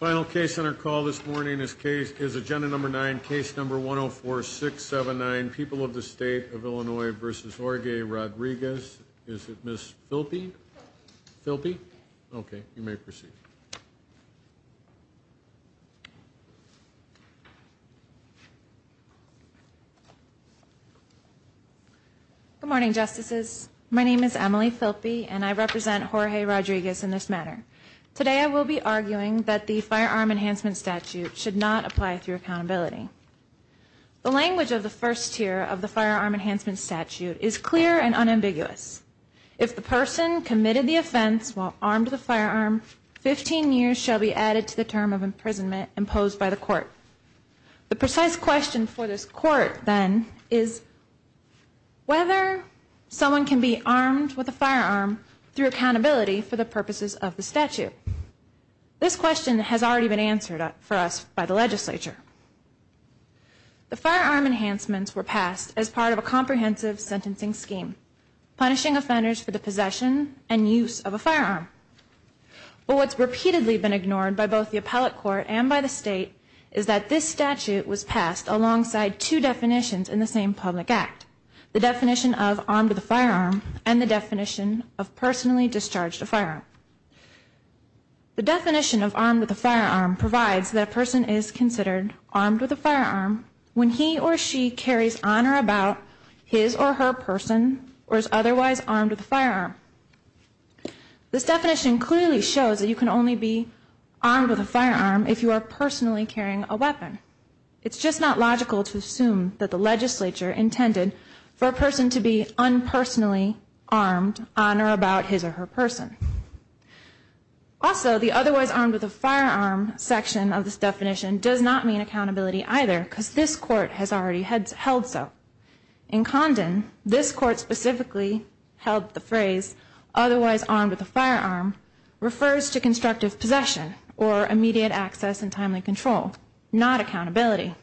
Final case on our call this morning is case, is agenda number nine, case number 104-679, People of the State of Illinois v. Jorge Rodriguez. Is it Ms. Filpi? Filpi? Okay, you may proceed. Good morning, Justices. My name is Emily Filpi and I represent Jorge Rodriguez in this matter. Today I will be arguing that the firearm enhancement statute should not apply through accountability. The language of the first tier of the firearm enhancement statute is clear and unambiguous. If the person committed the offense while armed with a firearm, 15 years shall be added to the term of imprisonment imposed by the court. The precise question for this court then is whether someone can be armed with a firearm through accountability for the use of the statute. This question has already been answered for us by the legislature. The firearm enhancements were passed as part of a comprehensive sentencing scheme, punishing offenders for the possession and use of a firearm. But what's repeatedly been ignored by both the appellate court and by the state is that this statute was passed alongside two definitions in the same public act. The definition of armed with a firearm and the definition of The definition of armed with a firearm provides that a person is considered armed with a firearm when he or she carries on or about his or her person or is otherwise armed with a firearm. This definition clearly shows that you can only be armed with a firearm if you are personally carrying a weapon. It's just not logical to assume that the legislature intended for a person to be Also, the otherwise armed with a firearm section of this definition does not mean accountability either because this court has already held so. In Condon, this court specifically held the phrase otherwise armed with a firearm refers to constructive possession or immediate access and timely control, not accountability.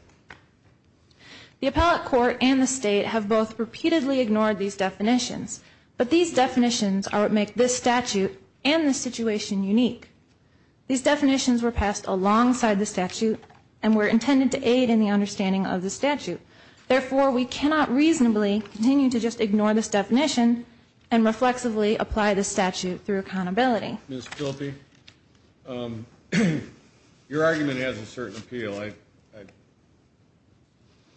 The appellate court and the state have both repeatedly ignored these definitions, but these definitions are what make this statute and the situation unique. These definitions were passed alongside the statute and were intended to aid in the understanding of the statute. Therefore, we cannot reasonably continue to just ignore this definition and reflexively apply the statute through accountability. Ms. Filpi, um, your argument has a certain appeal. I,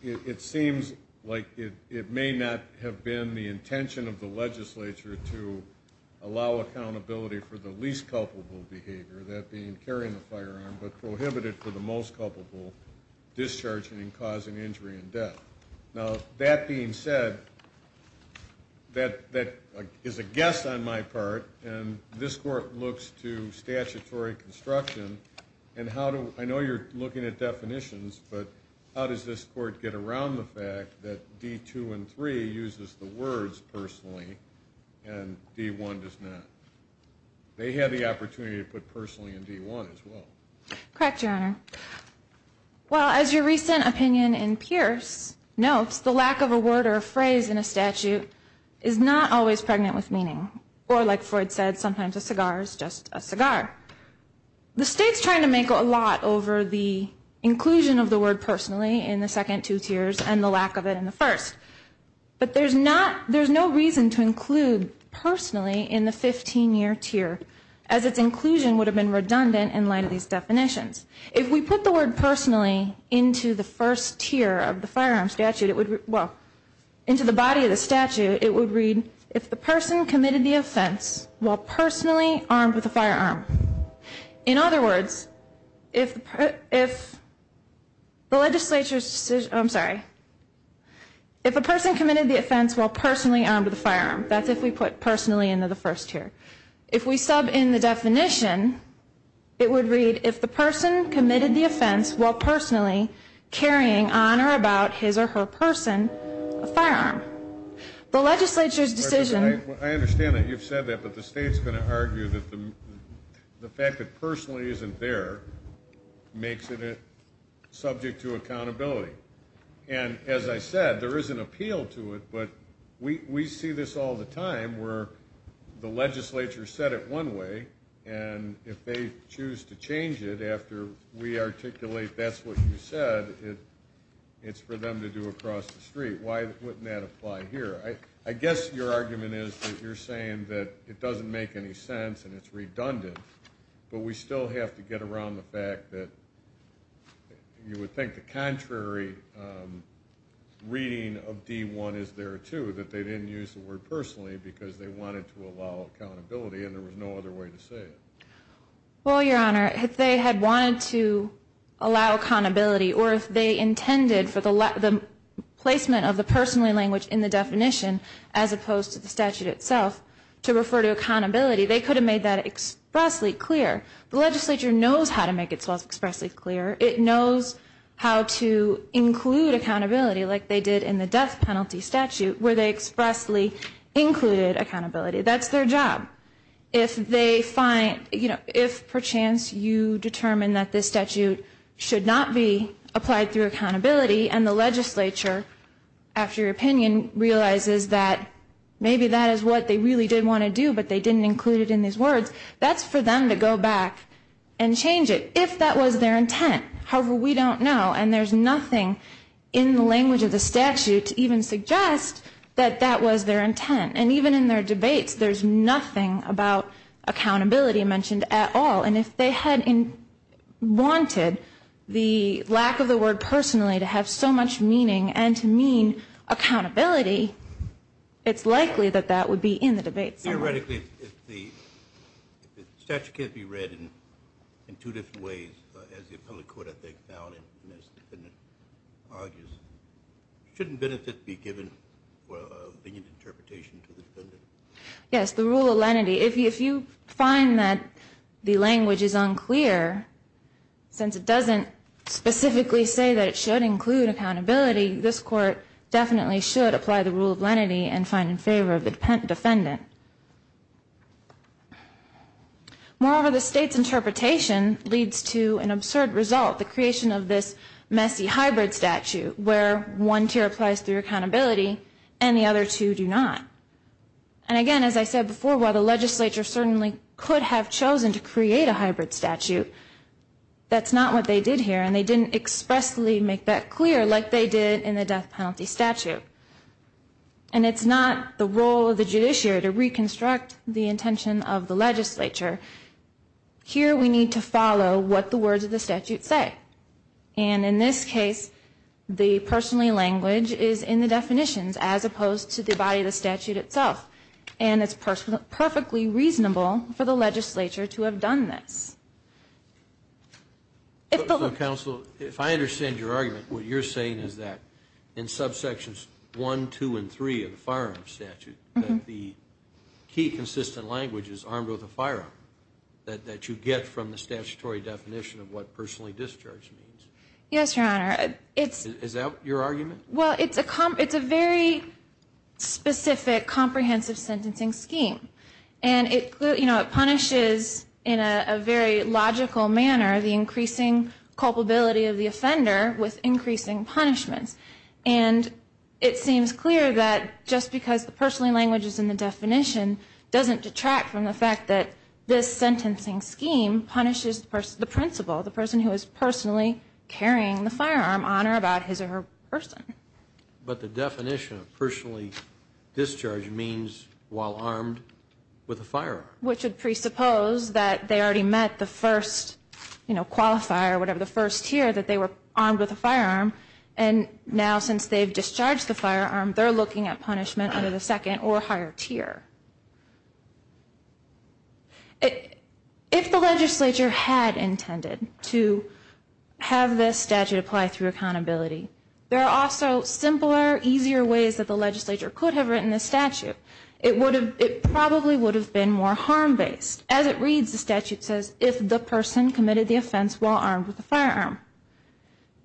it seems like it may not have been the intention of the legislature to allow accountability for the least culpable behavior, that being carrying the firearm, but prohibited for the most culpable discharging and causing injury and death. Now, that being said, that that is a guess on my part, and this court looks to statutory construction and how do I know you're looking at definitions, but how does this court get around the fact that D two and three uses the words personally and D one does not? They had the opportunity to put personally in D one as well. Correct, Your Honor. Well, as your recent opinion in Pierce notes, the lack of a word or a phrase in a statute is not always pregnant with meaning. Or, like Freud said, sometimes a cigar is just a cigar. The state's trying to make a lot over the inclusion of the word personally in the second two tiers and the lack of it in the first. But there's not there's no reason to include personally in the 15 year tier as its inclusion would have been redundant in light of these definitions. If we put the word personally into the first tier of the firearm statute, it would well into the body of the statute, it would read if the person committed the offense while personally armed with a firearm. In If a person committed the offense while personally armed with a firearm, that's if we put personally into the first tier. If we sub in the definition, it would read if the person committed the offense while personally carrying on or about his or her person, a firearm. The legislature's decision, I understand that you've said that, but the state's going to argue that the fact that personally isn't there makes it subject to accountability. And as I said, there is an appeal to it, but we see this all the time where the legislature said it one way, and if they choose to change it after we articulate that's what you said, it's for them to do across the street. Why wouldn't that apply here? I guess your argument is that you're saying that it doesn't make any sense and it's redundant, but we still have to get around the fact that you would think the contrary reading of D1 is there too, that they didn't use the word personally because they wanted to allow accountability and there was no other way to say it. Well, Your Honor, if they had wanted to allow accountability or if they intended for the placement of the personally language in the definition as opposed to the statute itself to refer to accountability, they could have made that expressly clear. The legislature knows how to make itself expressly clear. It knows how to include accountability like they did in the death penalty statute where they expressly included accountability. That's their job. If they find, you know, if perchance you determine that this statute should not be applied through accountability and the legislature, after your opinion, realizes that maybe that is what they really did want to do but they didn't include it in these and change it if that was their intent. However, we don't know and there's nothing in the language of the statute to even suggest that that was their intent. And even in their debates, there's nothing about accountability mentioned at all. And if they had wanted the lack of the word personally to have so much meaning and to mean accountability, it's likely that that would be in the debate somewhat. Theoretically, if the statute can't be read in two different ways, as the appellate court I think found it, and as the defendant argues, shouldn't benefit be given for a lenient interpretation to the defendant? Yes, the rule of lenity. If you find that the language is unclear, since it doesn't specifically say that it should include accountability, this court definitely should apply the rule of lenity and find it in favor of the defendant. Moreover, the state's interpretation leads to an absurd result, the creation of this messy hybrid statute where one tier applies through accountability and the other two do not. And again, as I said before, while the legislature certainly could have chosen to create a hybrid statute, that's not what they did here and they didn't expressly make that clear like they did in the death penalty statute. And it's not the role of the judiciary to reconstruct the intention of the legislature. Here we need to follow what the words of the statute say. And in this case, the personally language is in the definitions as opposed to the body of the statute itself. And it's perfectly reasonable for the legislature to have done this. Counsel, if I understand your argument, what you're saying is that in subsections 1, 2, and 3 of the firearms statute, the key consistent language is armed with a firearm, that you get from the statutory definition of what personally discharge means. Yes, Your Honor. Is that your argument? Well, it's a very specific comprehensive sentencing scheme. And it, you know, it punishes in a very logical manner the increasing culpability of the offender with increasing punishments. And it seems clear that just because the personally language is in the definition doesn't detract from the fact that this sentencing scheme punishes the person, the principal, the person who is personally carrying the firearm on or about his or her person. But the definition of personally discharge means while armed with a firearm. Which would have been the first, you know, qualifier, whatever, the first tier that they were armed with a firearm. And now since they've discharged the firearm, they're looking at punishment under the second or higher tier. If the legislature had intended to have this statute apply through accountability, there are also simpler, easier ways that the legislature could have written this statute. It would have, it probably would have been more harm based. As it stands, they didn't do that. They took pains to clearly write if the person committed the offense while armed with a firearm.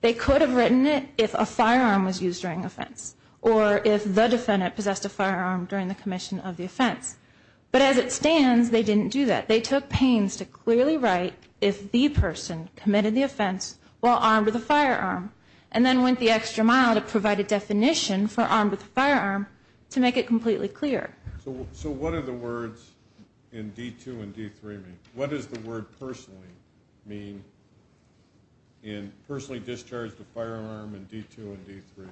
They could have written it if a firearm was used during offense. Or if the defendant possessed a firearm during the commission of the offense. But as it stands, they didn't do that. They took pains to clearly write if the person committed the offense while armed with a firearm. And then went the extra mile to provide a definition for armed with a firearm to make it completely clear. So what are the words in D2 and D3 mean? What does the word personally mean in personally discharged a firearm in D2 and D3?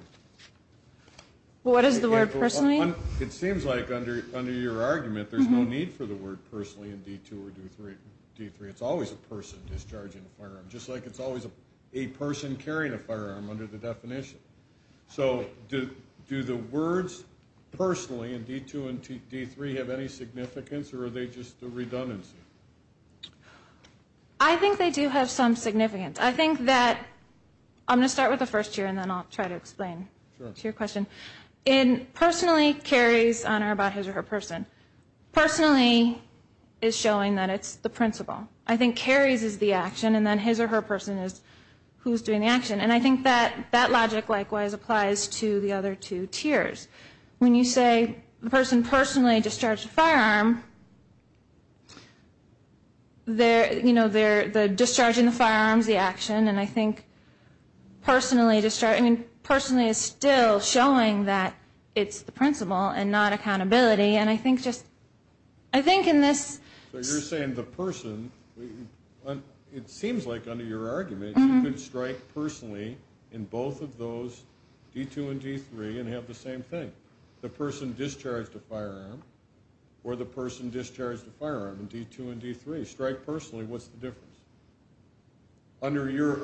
What does the word personally mean? It seems like under your argument, there's no need for the word personally in D2 or D3. It's always a person discharging a firearm. Just like it's always a person carrying a firearm under the definition. So do the words personally in D2 and D3 have any redundancy? I think they do have some significance. I think that, I'm going to start with the first tier and then I'll try to explain to your question. In personally carries honor about his or her person. Personally is showing that it's the principal. I think carries is the action and then his or her person is who's doing the action. And I think that that logic likewise applies to the discharging the firearms, the action. And I think personally is still showing that it's the principal and not accountability. And I think in this... So you're saying the person, it seems like under your argument, you can strike personally in both of those, D2 and D3, and have the same thing. The person discharged a firearm or the person discharged a firearm in D2 and D3. Strike personally, what's the difference? Under your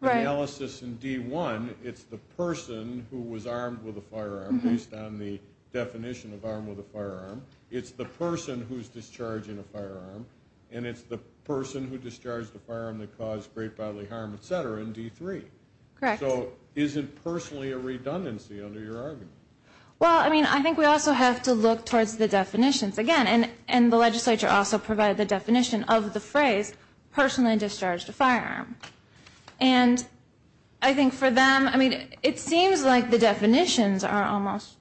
analysis in D1, it's the person who was armed with a firearm based on the definition of armed with a firearm. It's the person who's discharging a firearm and it's the person who discharged a firearm that caused great bodily harm, et cetera, in D3. So is it I think we also have to look towards the definitions again. And the legislature also provided the definition of the phrase personally discharged a firearm. And I think for them, I mean, it seems like the definitions are almost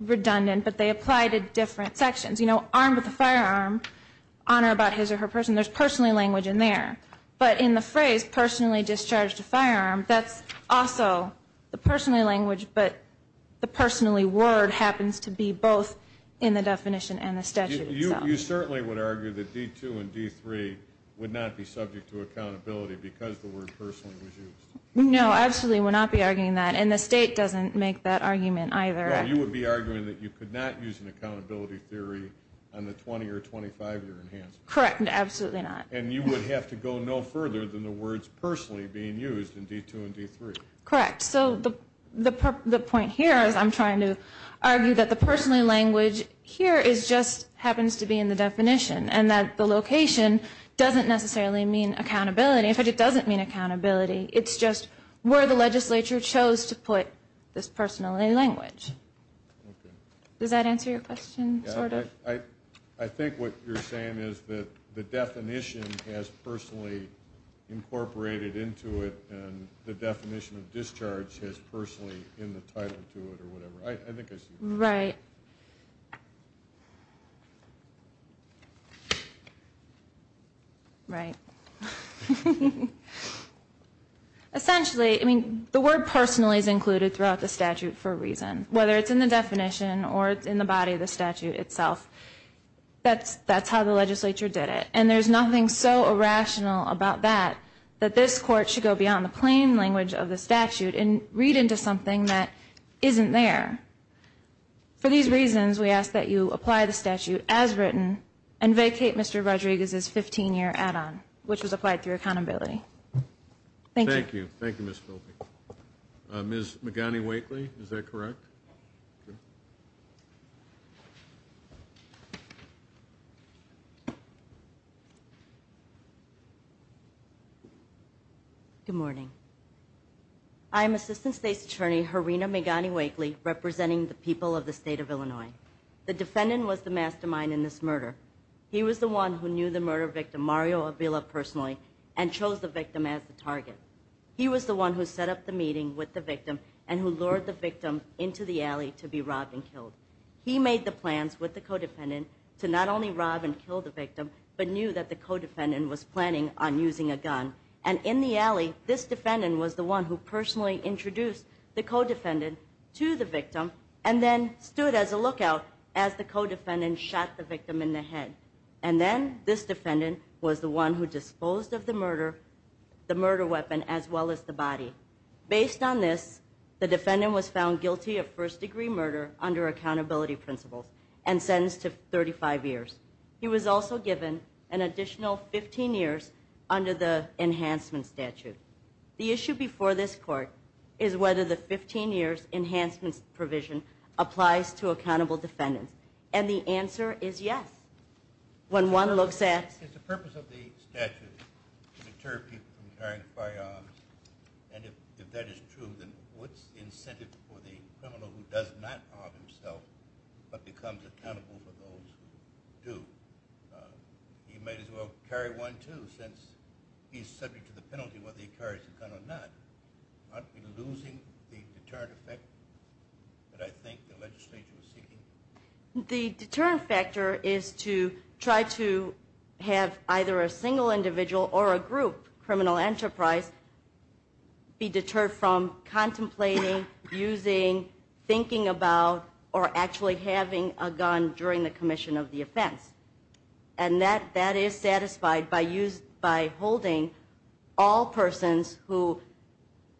redundant, but they apply to different sections. You know, armed with a firearm, honor about his or her person, there's personally language in there. But in the phrase personally discharged a firearm, that's also the personally word happens to be both in the definition and the statute. You certainly would argue that D2 and D3 would not be subject to accountability because the word personally was used? No, absolutely would not be arguing that. And the state doesn't make that argument either. No, you would be arguing that you could not use an accountability theory on the 20 or 25 year enhancement. Correct, absolutely not. And you would have to go no further than the words personally being used in D2 and D3. Correct. So the point here is I'm trying to argue that the personally language here just happens to be in the definition and that the location doesn't necessarily mean accountability. In fact, it doesn't mean accountability. It's just where the legislature chose to put this personally language. Does that answer your question? I think what you're saying is that the definition has personally incorporated into it and the definition of discharge is personally in the title to it or whatever. I think I see that. Right. Right. Essentially, I mean, the word personally is included throughout the statute for a reason. Whether it's in the definition or it's in the body of the statute itself, that's how the legislature did it. And there's nothing so irrational about that that this court should go beyond the plain language of the statute and read into something that isn't there. For these reasons, we ask that you apply the statute as written and vacate Mr. Rodriguez's 15 year add-on, which was applied through accountability. Thank you. Thank you. Thank you, Ms. Filby. Ms. Magani-Wakely, is that correct? Good morning. I am Assistant State's Attorney Harina Magani-Wakely, representing the people of the state of Illinois. The defendant was the mastermind in this murder. He was the one who knew the murder victim, Mario Avila, personally and chose the victim as the target. He was the one who set up the meeting with the victim and who lured the victim into the alley to be robbed and killed. He made the plans with the co-defendant to not only rob and kill the victim, but knew that the co-defendant was planning on using a gun. And in the alley, this defendant was the one who personally introduced the co-defendant to the victim and then stood as a lookout as the co-defendant shot the victim in the ear, the murder weapon, as well as the body. Based on this, the defendant was found guilty of first-degree murder under accountability principles and sentenced to 35 years. He was also given an additional 15 years under the enhancement statute. The issue before this court is whether the 15 years enhancement provision applies to accountable defendants. And the answer is yes. When one looks at... Is the purpose of the statute to deter people from carrying firearms? And if that is true, then what's the incentive for the criminal who does not harm himself but becomes accountable for those who do? He might as well carry one, too, since he's subject to the penalty whether he carries a gun or not. Aren't we losing the deterrent effect that I think the legislature is seeking? The deterrent factor is to try to have either a single individual or a group criminal enterprise be deterred from contemplating, using, thinking about, or actually having a gun during the commission of the offense. And that is satisfied by holding all persons who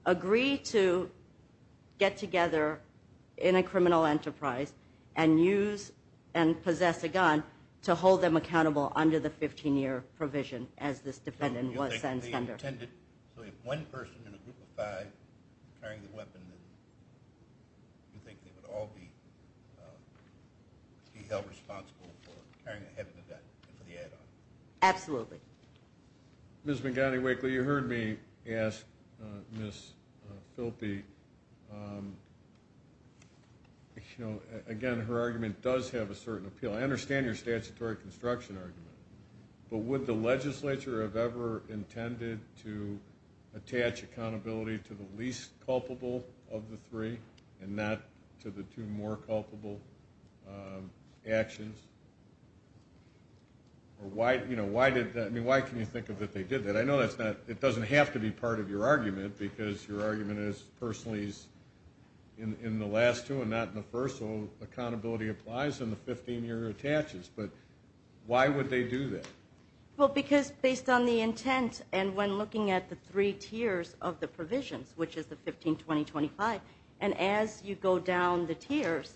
agree to get together in a criminal enterprise and use and possess a gun to hold them accountable under the 15-year provision as this defendant was sentenced under. So if one person in a group of five carrying the weapon, do you think they would all be held responsible for carrying a heavy weapon and for the add-on? Absolutely. Ms. McGonigal-Wakeley, you heard me ask Ms. Filpi. Again, her argument does have a certain appeal. I understand your statutory construction argument, but would the legislature have ever intended to attach accountability to the least culpable of the three and not to the two more culpable actions? Why can you think of it that they did that? I know it doesn't have to be part of your argument because your argument is personally in the last two and not in the first, so accountability applies and the 15-year attaches. But why would they do that? Well, because based on the intent and when looking at the three tiers of the provisions, which is the 15, 20, 25, and as you go down the tiers,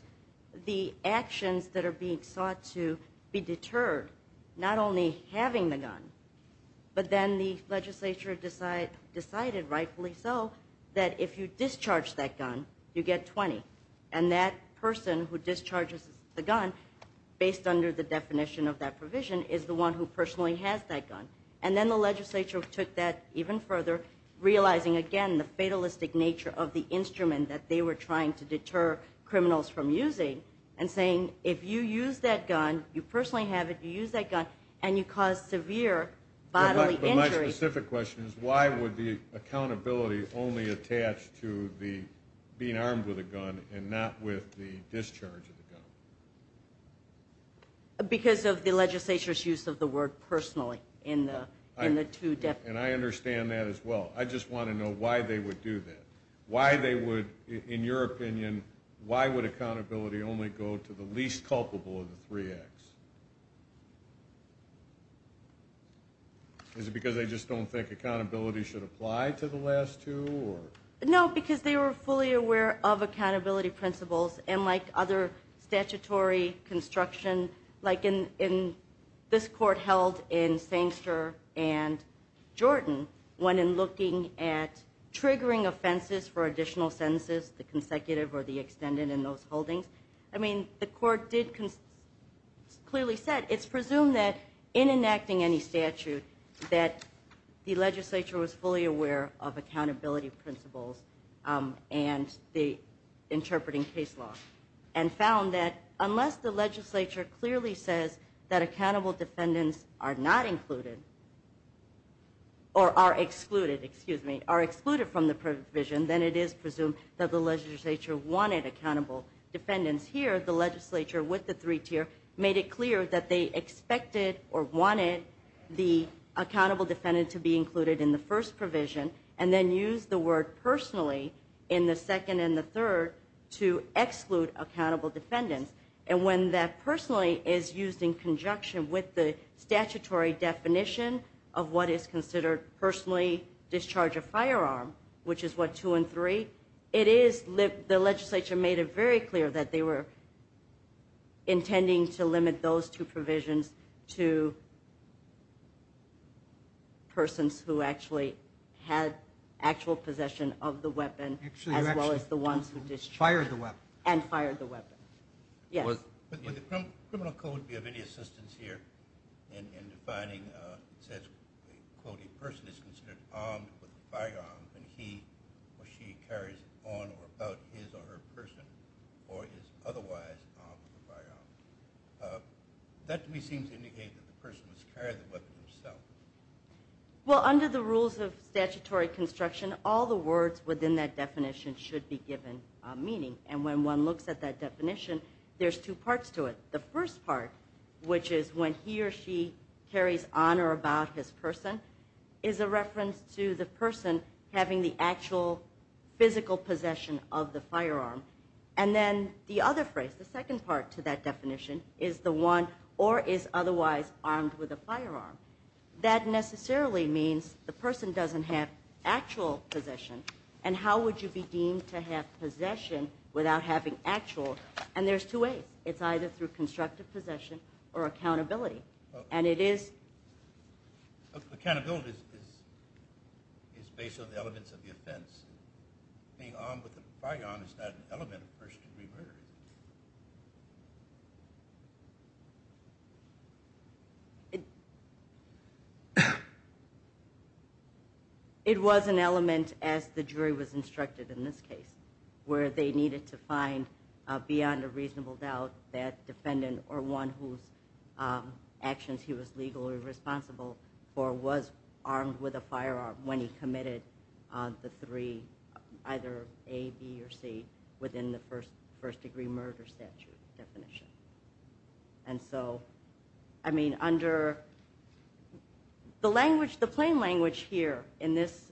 the actions that are being sought to be deterred, not only having the gun, but then the legislature decided, rightfully so, that if you discharge that gun, you get 20. And that person who discharges the gun, based under the definition of that provision, is the one who personally has that gun. And then the legislature took that even further, realizing, again, the fatalistic nature of the instrument that they were trying to deter criminals from using and saying, if you use that gun, you personally have it, you use that gun, and you cause severe bodily injury. But my specific question is, why would the accountability only attach to being armed with a gun and not with the discharge of the gun? Because of the legislature's use of the word personally in the two definitions. And I understand that as well. I just want to know why they would do that. Why they would, in your opinion, why would accountability only go to the least culpable of the three acts? Is it because they just don't think accountability should apply to the last two? No, because they were fully aware of accountability principles, and like other statutory construction, like in this court held in Sangster and Jordan, when in looking at triggering offenses for additional sentences, the consecutive or the extended in those holdings, I mean, the court did clearly say, it's presumed that in enacting any statute, that the legislature was fully aware of accountability principles and the interpreting case law, and found that unless the legislature clearly says that accountable defendants are not included, or are excluded, excuse me, are excluded from the provision, then it is presumed that the legislature wanted accountable defendants. Here, the legislature, with the three tier, made it clear that they expected or wanted the accountable defendant to be included in the first provision, and then used the word personally in the second and the third to exclude accountable defendants. And when that personally is used in conjunction with the statutory definition of what is considered personally discharge a firearm, which is what, two and three, it is the legislature made it very clear that they were intending to limit those two provisions to persons who actually had actual possession of the weapon, as well as the ones who discharged and fired the weapon. Yes? With the criminal code, do you have any assistance here in defining, it says, a person is considered armed with a firearm when he or she carries it on or about his or her person, or is otherwise armed with a firearm? That to me seems to indicate that the person must carry the weapon himself. Well, under the rules of statutory construction, all the words within that definition should be given meaning. And when one looks at that definition, there's two parts to it. The first part, which is when he or she carries on or about his person, is a reference to the person having the actual physical possession of the firearm. And then the other phrase, the second part to that definition, is the one or is otherwise armed with a firearm. That necessarily means the person doesn't have actual possession, and how would you be deemed to have possession without having actual? And there's two ways. It's either through constructive possession or accountability. And it is. Accountability is based on the elements of the offense. Being armed with a firearm is not an element of first-degree murder, is it? It was an element, as the jury was instructed in this case, where they needed to find beyond a reasonable doubt that defendant or one whose actions he was legally responsible for was armed with a firearm when he committed the three, either A, B, or C, within the first-degree murder statute definition. And so, I mean, under the language, the plain language here in this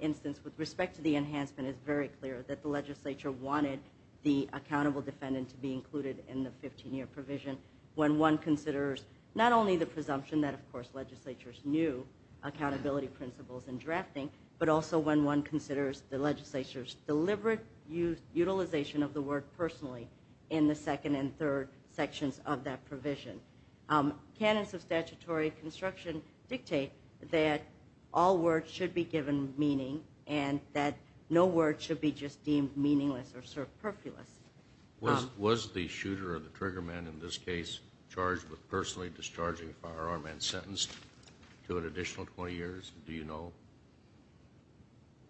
instance with respect to the enhancement is very clear that the legislature wanted the accountable defendant to be included in the 15-year provision when one considers not only the presumption that, of course, legislatures knew accountability principles and drafting, but also when one considers the legislature's deliberate utilization of the word personally in the second and third sections of that provision. Canons of statutory construction dictate that all words should be given meaning and that no word should be just deemed meaningless or superfluous. Was the shooter or the trigger man in this case charged with personally discharging a firearm and sentenced to an additional 20 years? Do you know?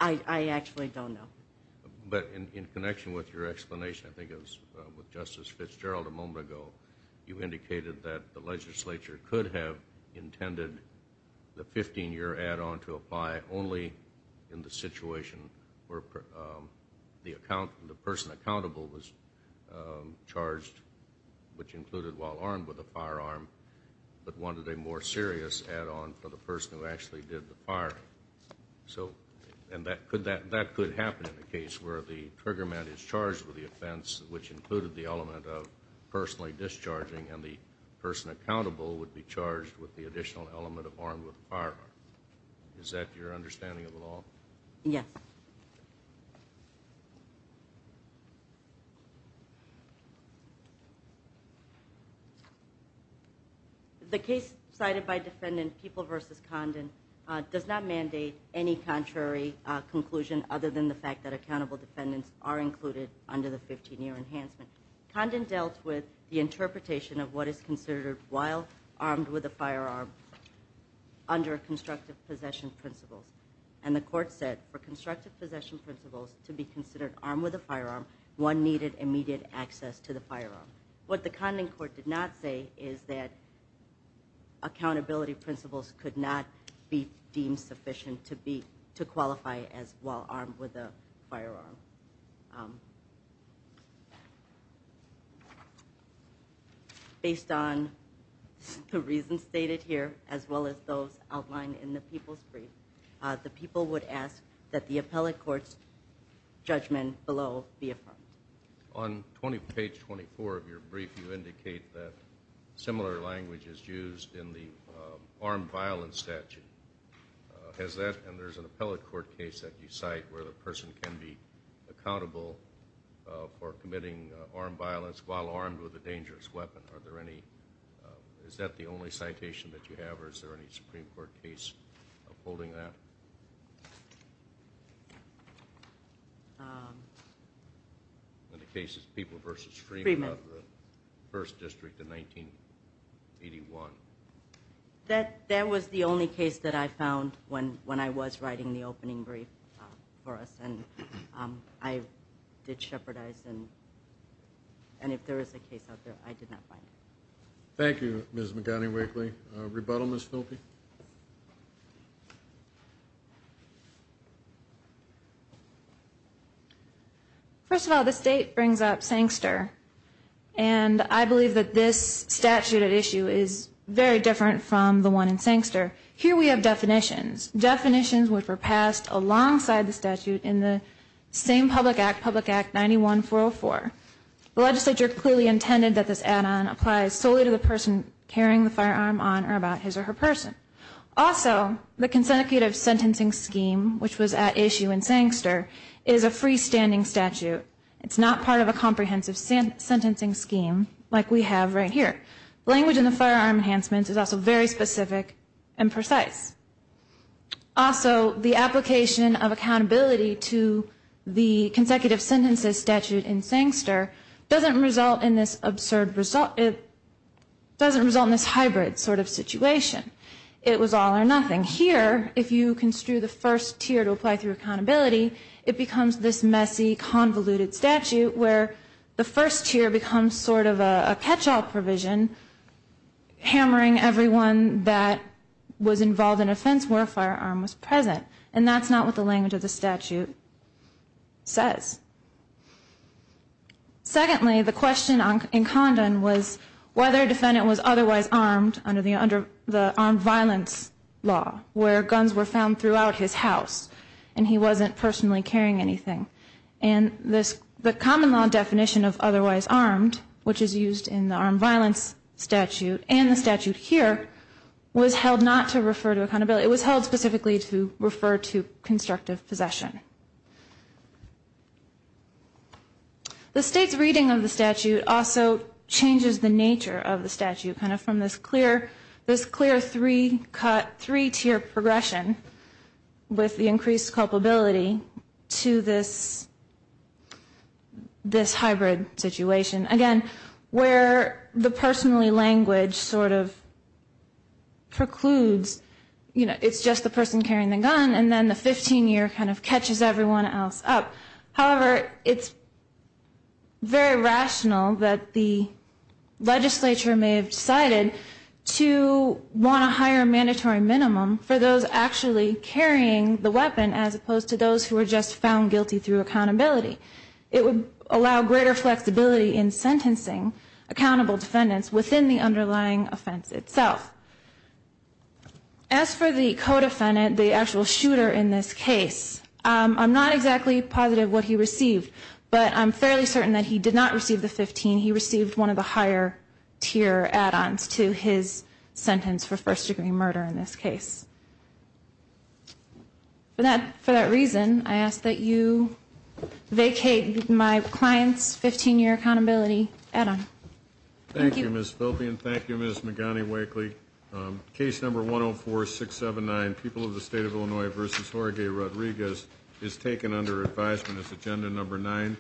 I actually don't know. But in connection with your explanation, I think it was with Justice Fitzgerald a moment ago, you indicated that the legislature could have intended the 15-year add-on to apply only in the situation where the person accountable was charged, which included while armed with a firearm, but wanted a more serious add-on for the person who actually did the firing. And that could happen in the case where the trigger man is charged with the offense, which included the element of personally discharging, and the person accountable would be charged with the additional element of armed with a firearm. Is that your understanding of the law? Yes. The case cited by Defendant People v. Condon does not mandate any contrary conclusion other than the fact that accountable defendants are included under the 15-year enhancement. Condon dealt with the interpretation of what is considered while armed with a firearm under constructive possession principles, and the court said for constructive possession principles to be considered armed with a firearm, one needed immediate access to the firearm. What the Condon court did not say is that accountability principles could not be deemed sufficient to qualify as while armed with a firearm. Based on the reasons stated here, as well as those outlined in the people's brief, the people would ask that the appellate court's judgment below be affirmed. On page 24 of your brief, you indicate that similar language is used in the armed violence statute. Has that, and there's an appellate court case that you cite where the person can be charged accountable for committing armed violence while armed with a dangerous weapon. Is that the only citation that you have, or is there any Supreme Court case upholding that? The case is People v. Freeman out of the 1st District in 1981. That was the only case that I found when I was writing the opening brief for us, and I did shepherdize, and if there is a case out there, I did not find it. Thank you, Ms. McGonigal-Wheatley. Rebuttal, Ms. Filpi? First of all, this date brings up Sankster, and I believe that this statute at issue is very different from the one in Sankster. Here we have definitions. Definitions which were passed alongside the statute in the same public act, Public Act 9144. The legislature clearly intended that this add-on apply solely to the person carrying the firearm on or about his or her person. Also, the consecutive sentencing scheme, which was at issue in Sankster, is a freestanding statute. It's not part of a comprehensive sentencing scheme like we have right here. Language in the firearm enhancements is also very specific and precise. Also, the application of accountability to the consecutive sentences statute in Sankster doesn't result in this hybrid sort of situation. It was all or nothing. Here, if you construe the first tier to apply through accountability, it becomes this messy, convoluted statute where the first tier becomes sort of a catch-all provision, hammering everyone that was involved in offense where a firearm was present. And that's not what the language of the statute says. Secondly, the question in Condon was whether a defendant was otherwise armed under the armed violence law, where guns were found throughout his house and he wasn't personally carrying anything. And the common law definition of otherwise armed, which is used in the armed violence statute and the statute here, was held not to refer to accountability. It was held specifically to refer to constructive possession. The state's reading of the statute also changes the nature of the statute, kind of from this clear three-tier progression with the increased culpability to this hybrid situation. Again, where the personally language sort of precludes, you know, it's just the person carrying the gun, and then the 15-year kind of catches everyone else up. However, it's very rational that the legislature may have decided to want to hire a mandatory minimum for those actually carrying the weapon as opposed to those who were just found guilty through accountability. It would allow greater flexibility in sentencing accountable defendants within the underlying offense itself. As for the co-defendant, the actual shooter in this case, I'm not exactly positive what he received, but I'm fairly certain that he did not receive the 15. He received one of the higher-tier add-ons to his sentence for first-degree murder in this case. For that reason, I ask that you vacate my client's 15-year accountability add-on. Thank you, Ms. Filpian. Thank you, Ms. McGonigal-Wakely. Case number 104-679, People of the State of Illinois v. Jorge Rodriguez, is taken under advisement as agenda number nine.